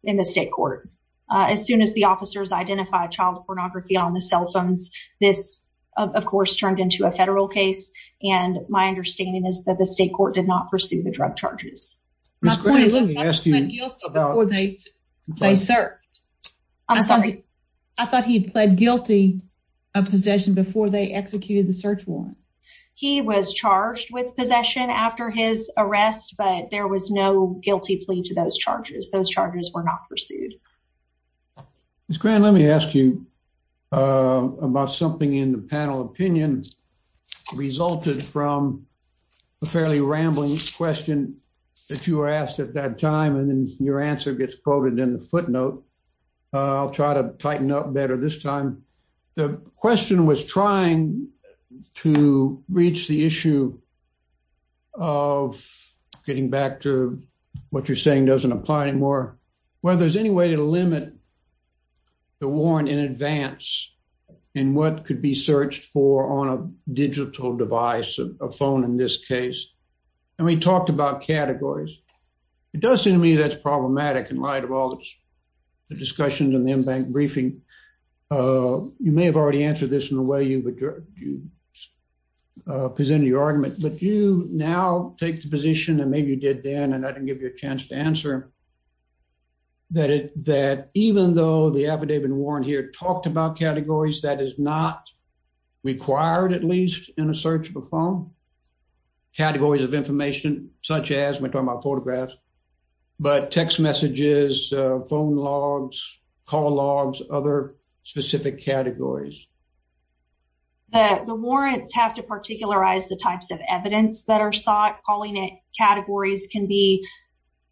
in the state court. As soon as the officers identified child pornography on the cell phones, this, of course, turned into a federal case. And my understanding is that the state court did not pursue the drug charges. Sir, I'm sorry. I thought he pled guilty of possession before they executed the search warrant. He was charged with possession after his arrest, but there was no guilty plea to those charges. Those charges were not pursued. It's grand. Let me ask you, uh, about something in the panel opinion resulted from a fairly rambling question that you were asked at that time, and then your answer gets quoted in the footnote. I'll try to tighten up better this time. The question was trying to reach the issue of getting back to what you're saying doesn't apply anymore. Whether there's any way to limit the warrant in advance in what could be searched for on a digital device, a phone in this case. And we talked about categories. It does seem to me that's problematic in light of all the discussions in the m bank briefing. Uh, you may have already answered this in the way you would you presented your argument. But you now take the position, and maybe you did then, and I can give you a chance to answer that. That even though the affidavit warrant here talked about categories that is not required, at least in a search of a phone categories of information such as we're talking about photographs, but text messages, phone logs, call logs, other specific categories that the warrants have to particularize the types of evidence that are sought. Calling it categories can be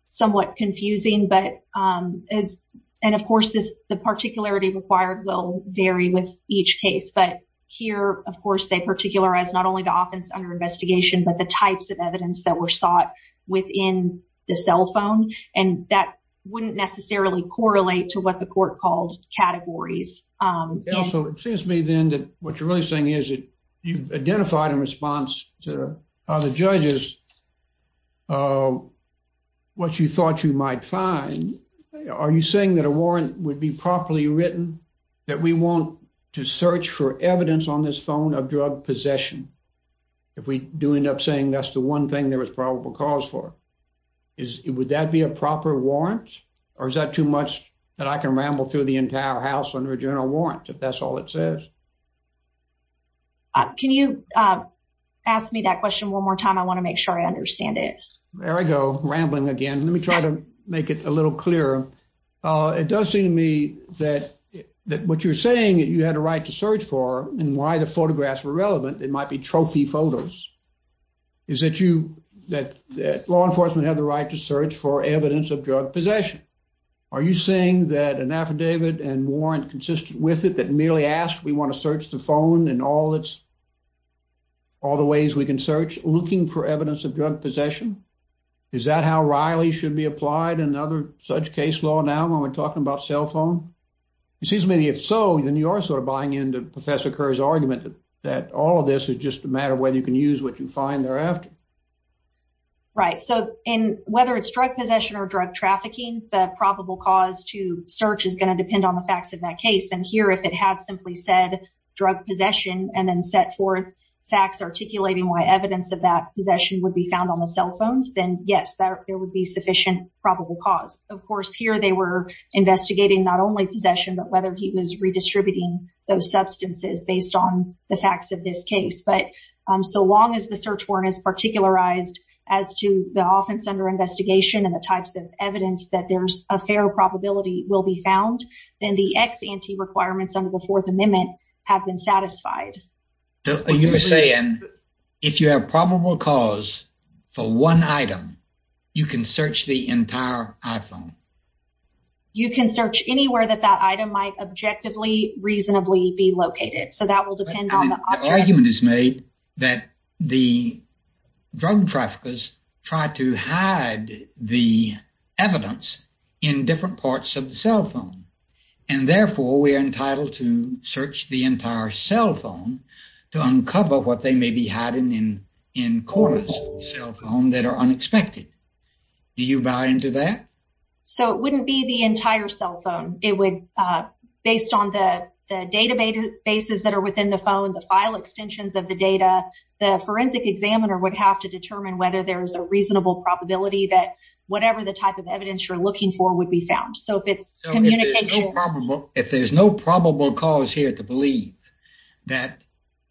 somewhat confusing. But, um, is and, of course, this particularity required will vary with each case. But here, of course, they particularize not only the offense under investigation, but the types of evidence that were sought within the cell phone. And that wouldn't necessarily correlate to what the court called categories. Um, also, it seems to me then that what you're really saying is that you've identified in response to other judges, uh, what you thought you might find. Are you saying that a warrant would be properly written that we want to search for evidence on this phone of drug possession? If we do end up saying that's the one thing there was probable cause for, would that be a proper warrant? Or is that too much that I can ramble through the entire house under a general warrant if that's all it says? Can you, uh, ask me that question one more time? I want to make sure I understand it. There I go rambling again. Let me try to make it a little clearer. Uh, it does seem to me that that what you're saying that you had a right to search for and why the photographs were relevant. It might be trophy photos. Is that you that law enforcement have the right to search for evidence of drug possession? Are you saying that an affidavit and warrant consistent with it that merely asked we want to search the phone and all it's all the ways we can search looking for evidence of drug possession? Is that how Riley should be applied? Another such case law now when we're talking about cell phone? Excuse me. If so, then you are sort of buying into Professor Kerr's argument that all of this is just a matter of whether you can use what you find thereafter. Right. So and whether it's drug possession or drug trafficking, the depend on the facts of that case. And here, if it had simply said drug possession and then set forth facts articulating why evidence of that possession would be found on the cell phones, then yes, there would be sufficient probable cause. Of course, here they were investigating not only possession, but whether he was redistributing those substances based on the facts of this case. But so long as the search warrant is particular eyes as to the offense under investigation and the types of evidence that there's a fair probability will be found, then the ex ante requirements under the Fourth Amendment have been satisfied. You're saying if you have probable cause for one item, you can search the entire iPhone. You can search anywhere that that item might objectively reasonably be located. So that will depend on the argument is made that the drug traffickers tried to evidence in different parts of the cell phone, and therefore we're entitled to search the entire cell phone to uncover what they may be hiding in in quarters cell phone that are unexpected. Do you buy into that? So it wouldn't be the entire cell phone. It would based on the data bases that are within the phone, the file extensions of the data, the forensic examiner would have to determine whether there is a reasonable probability that whatever the type of evidence you're looking for would be found. So if it's communication, if there's no probable cause here to believe that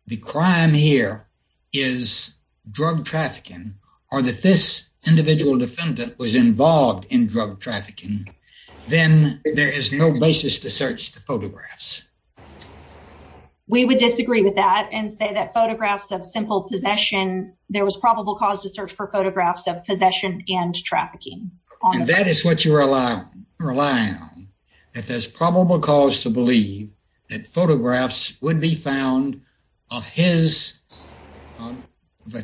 the crime here is drug trafficking or that this individual defendant was involved in drug trafficking, then there is no basis to search the photographs. We would disagree with that and say that photographs of simple possession. There was probable cause to search for photographs of possession and drug trafficking. That is what you rely on. If there's probable cause to believe that photographs would be found of his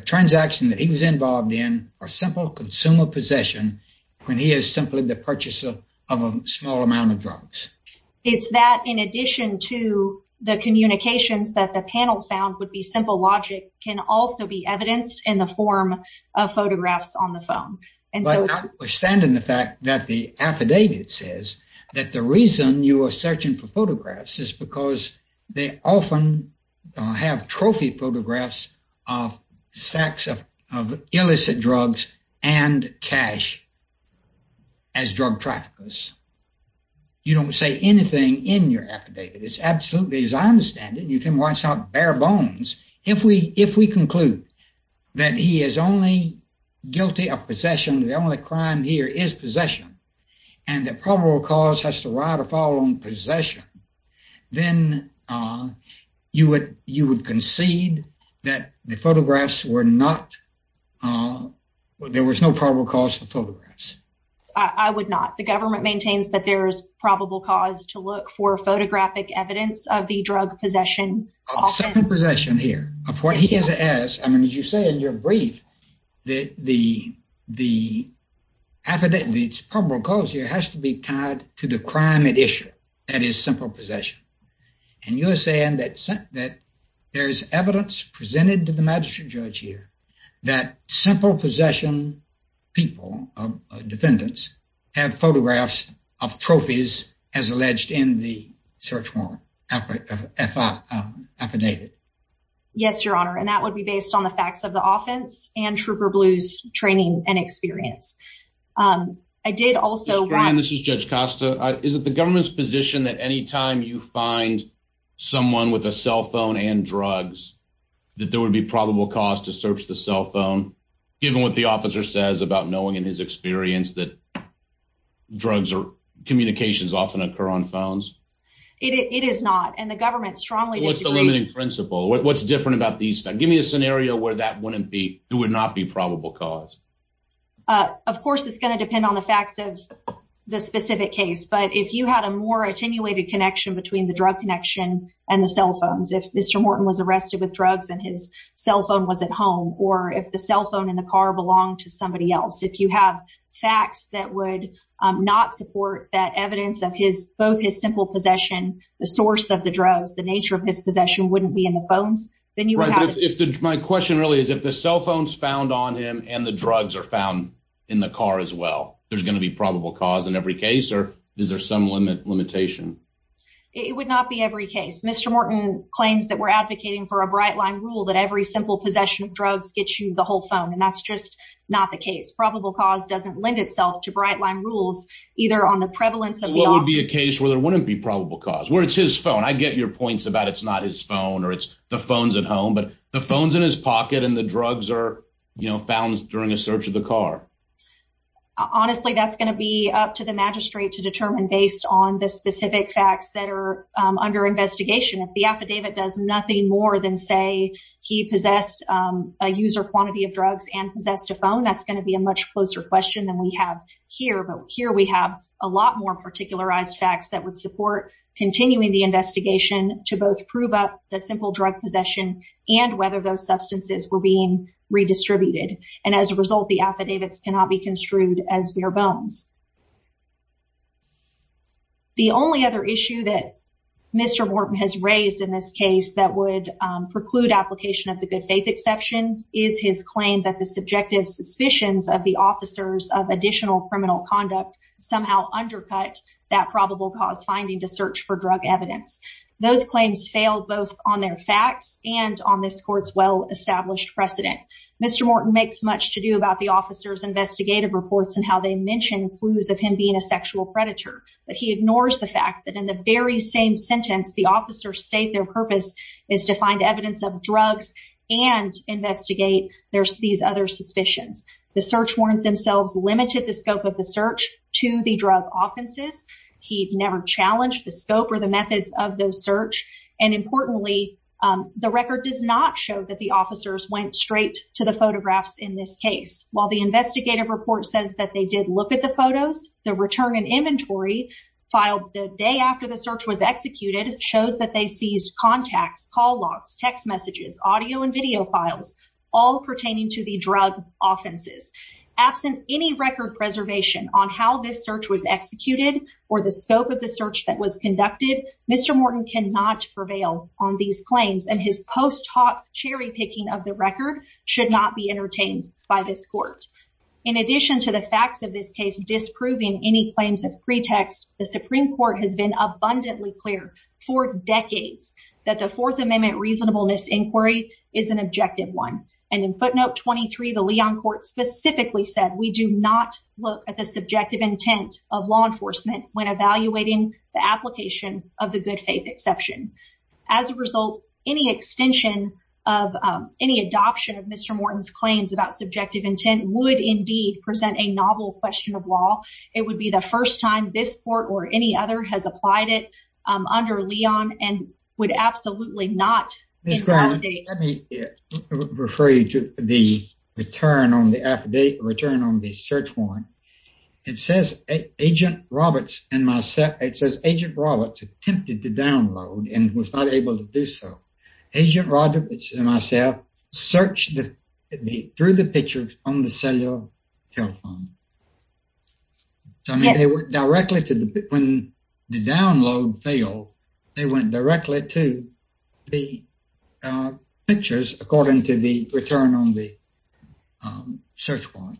transaction that he was involved in or simple consumer possession when he is simply the purchaser of a small amount of drugs. It's that in addition to the communications that the panel found would be simple logic can also be evidenced in the form of photographs on the phone. But notwithstanding the fact that the affidavit says that the reason you are searching for photographs is because they often have trophy photographs of stacks of illicit drugs and cash as drug traffickers. You don't say anything in your affidavit. It's absolutely, as I understand it, you can If we conclude that he is only guilty of possession, the only crime here is possession and the probable cause has to ride or fall on possession, then you would you would concede that the photographs were not. There was no probable cause for photographs. I would not. The government maintains that there is probable cause to look for photographic evidence of the drug possession. Possession here of what he has as I mean, as you say, in your brief, the the the affidavit's probable cause here has to be tied to the crime at issue. That is simple possession. And you're saying that that there's evidence presented to the magistrate judge here that simple possession people of defendants have photographs of trophies as alleged in the search effort affidavit. Yes, Your Honor. And that would be based on the facts of the offense and trooper blues training and experience. Um, I did also run. This is Judge Costa. Is it the government's position that any time you find someone with a cell phone and drugs that there would be probable cause to search the cell phone, given what the officer says about knowing in his experience that drugs or communications often occur on phones? It is not. And the government strongly what's the limiting principle? What's different about these? Give me a scenario where that wouldn't be. It would not be probable cause. Uh, of course, it's gonna depend on the facts of the specific case. But if you had a more attenuated connection between the drug connection and the cell phones, if Mr Morton was arrested with drugs and his cell phone was at home or if the not support that evidence of his both his simple possession, the source of the drugs, the nature of his possession wouldn't be in the phones. Then you would have if my question really is if the cell phones found on him and the drugs are found in the car as well, there's gonna be probable cause in every case. Or is there some limit limitation? It would not be every case. Mr Morton claims that we're advocating for a bright line rule that every simple possession of drugs gets you the whole phone. And that's just not the case. Probable cause doesn't lend itself to bright line rules either on the prevalence of what would be a case where there wouldn't be probable cause where it's his phone. I get your points about it's not his phone or it's the phones at home, but the phones in his pocket and the drugs are found during a search of the car. Honestly, that's gonna be up to the magistrate to determine based on the specific facts that are under investigation. If the affidavit does nothing more than say he possessed a user quantity of drugs and possessed a phone, that's gonna be a much closer question than we have here. But here we have a lot more particularized facts that would support continuing the investigation to both prove up the simple drug possession and whether those substances were being redistributed. And as a result, the affidavits cannot be construed as bare bones. The only other issue that Mr Morton has raised in this case that would preclude application of the good faith exception is his claim that the subjective suspicions of the officers of additional criminal conduct somehow undercut that probable cause finding to search for drug evidence. Those claims failed both on their facts and on this court's well-established precedent. Mr. Morton makes much to do about the officers investigative reports and how they mention clues of him being a sexual predator, but he ignores the fact that in the very same sentence the officers state their purpose is to find evidence of drugs and investigate these other suspicions. The search warrant themselves limited the scope of the search to the drug offenses. He never challenged the scope or the methods of those search. And importantly, the record does not show that the officers went straight to the photographs in this case. While the investigative report says that they did look at the photos, the return in inventory filed the day after the search was executed shows that they seized contacts, call logs, text messages, audio and video files all pertaining to the drug offenses. Absent any record preservation on how this search was executed or the scope of the search that was conducted, Mr Morton cannot prevail on these claims and his post hoc cherry picking of the record should not be entertained by this court. In addition to the facts of this case, disproving any claims of pretext, the Supreme Court has been abundantly clear for decades that the Fourth Amendment reasonableness inquiry is an objective one. And in footnote 23, the Leon court specifically said we do not look at the subjective intent of law enforcement when evaluating the application of the good faith exception. As a result, any extension of any adoption of Mr Morton's claims about subjective intent would indeed present a novel question of law. It would be the first time this court or any other has applied it under Leon and would absolutely not refer you to the return on the affidavit return on the search warrant. It says Agent Roberts and myself. It says Agent Roberts attempted to download and was not able to do so. Agent Rogers and myself searched through the pictures on the cellular telephone. I mean, they went directly to the when the download failed, they went directly to the pictures according to the return on the search warrant.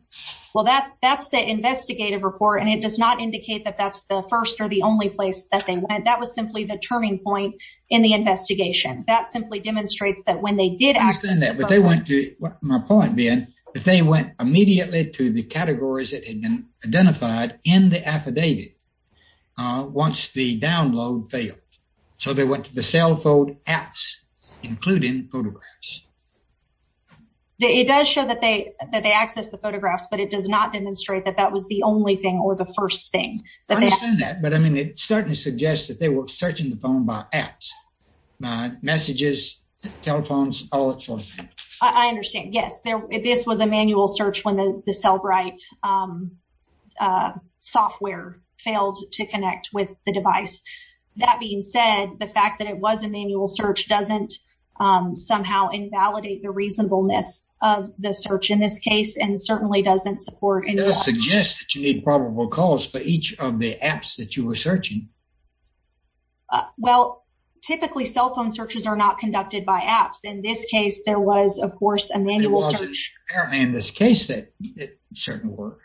Well, that that's the investigative report, and it does not indicate that that's the first or the only place that they went. That was simply the turning point in the investigation. That simply demonstrates that when they did ask they went to my point being that they went immediately to the categories that had been identified in the affidavit once the download failed. So they went to the cell phone apps, including photographs. It does show that they that they access the photographs, but it does not demonstrate that that was the only thing or the first thing that I mean, it certainly suggests that they were searching the phone by apps, messages, telephones, all that sort of thing. I understand. Yes, this was a manual search when the cell bright, um, uh, software failed to connect with the device. That being said, the fact that it was a manual search doesn't, um, somehow invalidate the reasonableness of the search in this case, and certainly doesn't support. It does suggest that you need probable cause for each of the apps that you were searching. Well, typically, cell phone searches are not conducted by apps. In this case, there was, of course, a manual search. In this case, that certainly work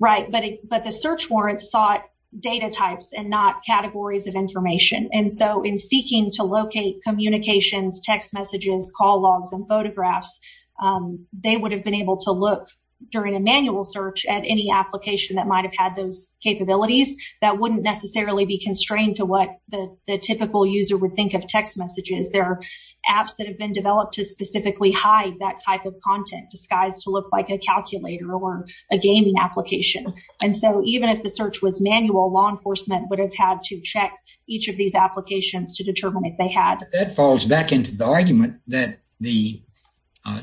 right. But but the search warrants sought data types and not categories of information. And so in seeking to locate communications, text messages, call logs and photographs, um, they would have been able to look during a manual search at any application that might have had those capabilities that wouldn't necessarily be constrained to what the typical user would think of text messages. There are apps that have been developed to specifically hide that type of content disguised to look like a calculator or a gaming application. And so even if the search was manual, law enforcement would have had to check each of these applications to determine if they had that falls back into the argument that the, uh,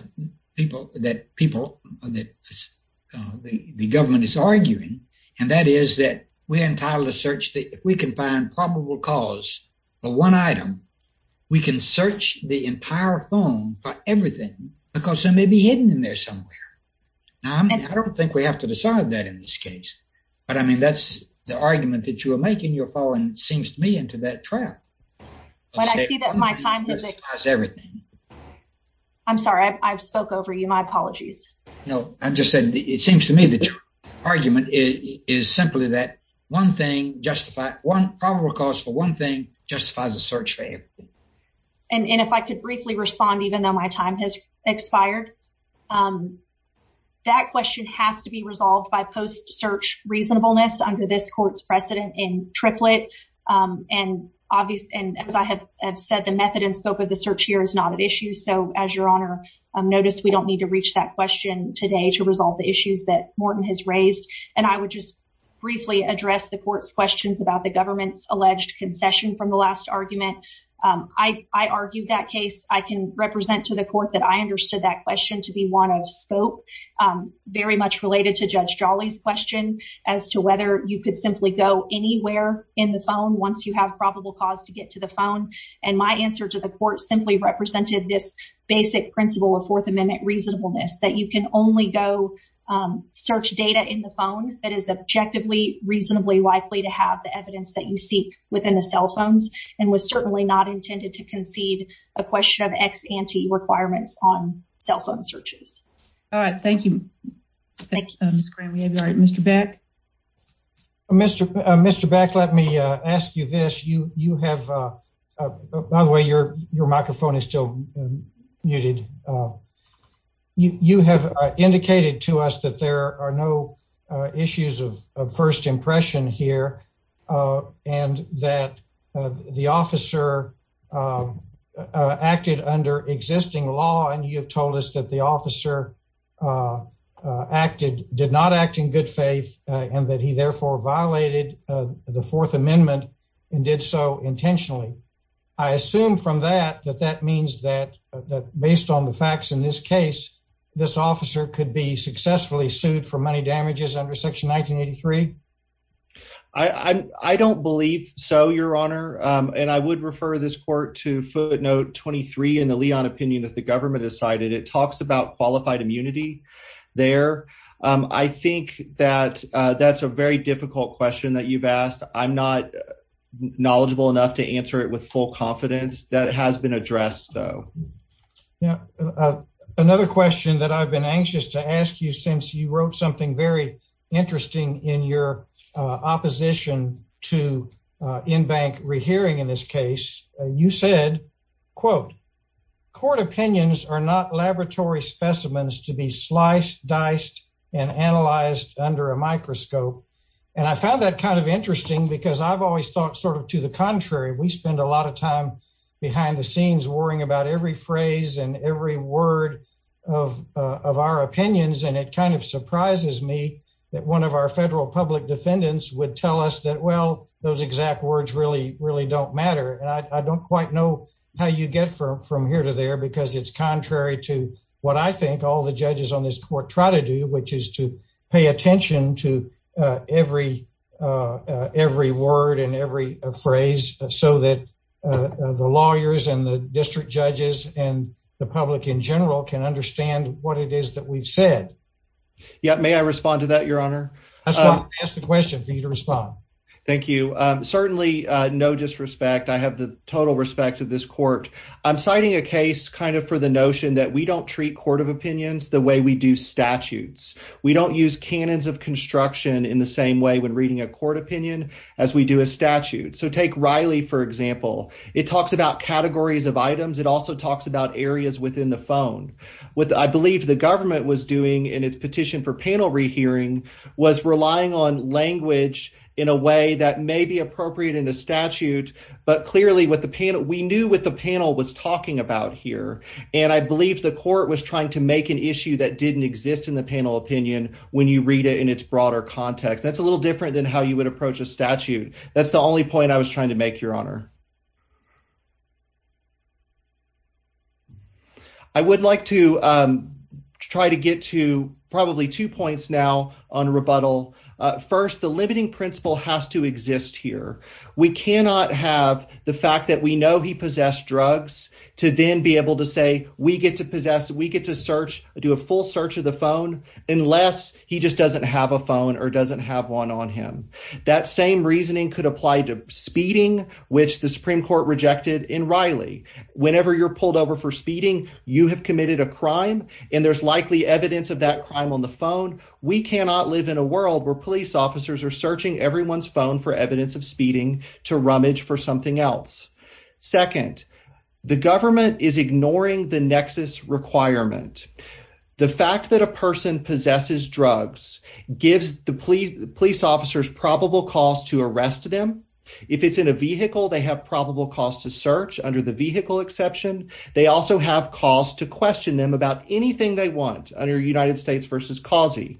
people that people that the government is arguing, and that is that we're entitled to search that if we can find probable cause of one item, we can search the entire phone for everything because there may be hidden in there somewhere. I don't think we have to decide that in this case. But I mean, that's the argument that you're making. You're falling seems to me into that trap. When I see that my time is everything. I'm sorry, I've spoke over you. My argument is simply that one thing justified one probable cause for one thing justifies a search for everything. And if I could briefly respond, even though my time has expired, um, that question has to be resolved by post search reasonableness under this court's precedent in triplet. Um, and obvious. And as I have said, the method and scope of the search here is not an issue. So as your honor noticed, we don't need to reach that question today to resolve the issues that Morton has raised. And I would just briefly address the court's questions about the government's alleged concession from the last argument. I argued that case. I can represent to the court that I understood that question to be one of scope very much related to Judge Jolly's question as to whether you could simply go anywhere in the phone once you have probable cause to get to the phone. And my answer to the court simply represented this basic principle of Fourth Amendment reasonableness that you can only go, um, search data in the phone that is objectively reasonably likely to have the evidence that you seek within the cell phones and was certainly not intended to concede a question of ex ante requirements on cell phone searches. All right. Thank you. Thank you. Mr. Beck. Mr. Mr. Beck, let me ask you this. You have, uh, by the way, your microphone is still muted. Uh, you have indicated to us that there are no issues of first impression here, uh, and that the officer, uh, acted under existing law. And you have told us that the officer, uh, acted did not act in good faith and that he therefore violated the Fourth Amendment and did so intentionally. I means that based on the facts in this case, this officer could be successfully sued for money damages under Section 1983. I don't believe so, Your Honor. And I would refer this court to footnote 23 in the Leon opinion that the government decided. It talks about qualified immunity there. I think that that's a very difficult question that you've asked. I'm not knowledgeable enough to answer it with full confidence that has been addressed, though. Yeah, another question that I've been anxious to ask you since you wrote something very interesting in your opposition to in bank rehearing. In this case, you said, quote, court opinions are not laboratory specimens to be sliced, diced and analyzed under a microscope. And I found that kind of contrary. We spend a lot of time behind the scenes worrying about every phrase and every word of of our opinions. And it kind of surprises me that one of our federal public defendants would tell us that well, those exact words really, really don't matter. I don't quite know how you get from from here to there because it's contrary to what I think all the judges on this court try to do, which is to pay attention to every every word and every phrase so that the lawyers and the district judges and the public in general can understand what it is that we've said. Yeah. May I respond to that, Your Honor? I just want to ask the question for you to respond. Thank you. Certainly no disrespect. I have the total respect of this court. I'm citing a case kind of for the notion that we don't treat court of opinions the way we do statutes. We don't use cannons of construction in the same way when reading a court opinion as we do a statute. So take Riley, for example. It talks about categories of items. It also talks about areas within the phone with I believe the government was doing in its petition for panel rehearing was relying on language in a way that may be appropriate in the statute. But clearly with the panel, we knew what the panel was talking about here, and I believe the court was trying to make an issue that didn't exist in the panel opinion when you read it in its broader context. That's a little different than how you would approach a statute. That's the only point I was trying to make your honor. I would like to try to get to probably two points now on rebuttal. First, the fact that we know he possessed drugs to then be able to say we get to possess. We get to search, do a full search of the phone unless he just doesn't have a phone or doesn't have one on him. That same reasoning could apply to speeding, which the Supreme Court rejected in Riley. Whenever you're pulled over for speeding, you have committed a crime, and there's likely evidence of that crime on the phone. We cannot live in a world where police officers are searching everyone's phone for evidence of speeding to rummage for something else. Second, the government is ignoring the nexus requirement. The fact that a person possesses drugs gives the police police officers probable calls to arrest them. If it's in a vehicle, they have probable calls to search under the vehicle exception. They also have calls to question them about anything they want under United States versus causing.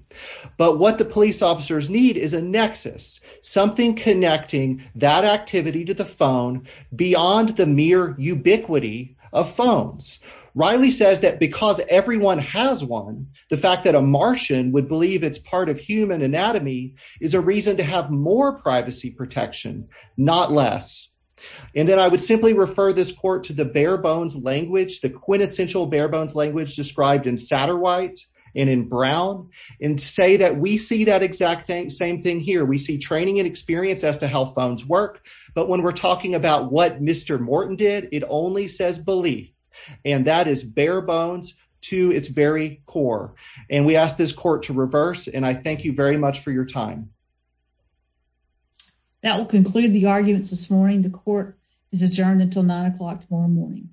But what the police officers need is a nexus, something connecting that activity to the phone beyond the mere ubiquity of phones. Riley says that because everyone has one, the fact that a Martian would believe it's part of human anatomy is a reason to have more privacy protection, not less. And then I would simply refer this court to the bare bones language, the quintessential bare bones language described in Satterwhite and in Brown and say that we see that exact same thing here. We see training and experience as to how bones work. But when we're talking about what Mr Morton did, it only says belief, and that is bare bones to its very core. And we asked this court to reverse. And I thank you very much for your time that will conclude the arguments this morning. The court is adjourned until nine o'clock tomorrow morning.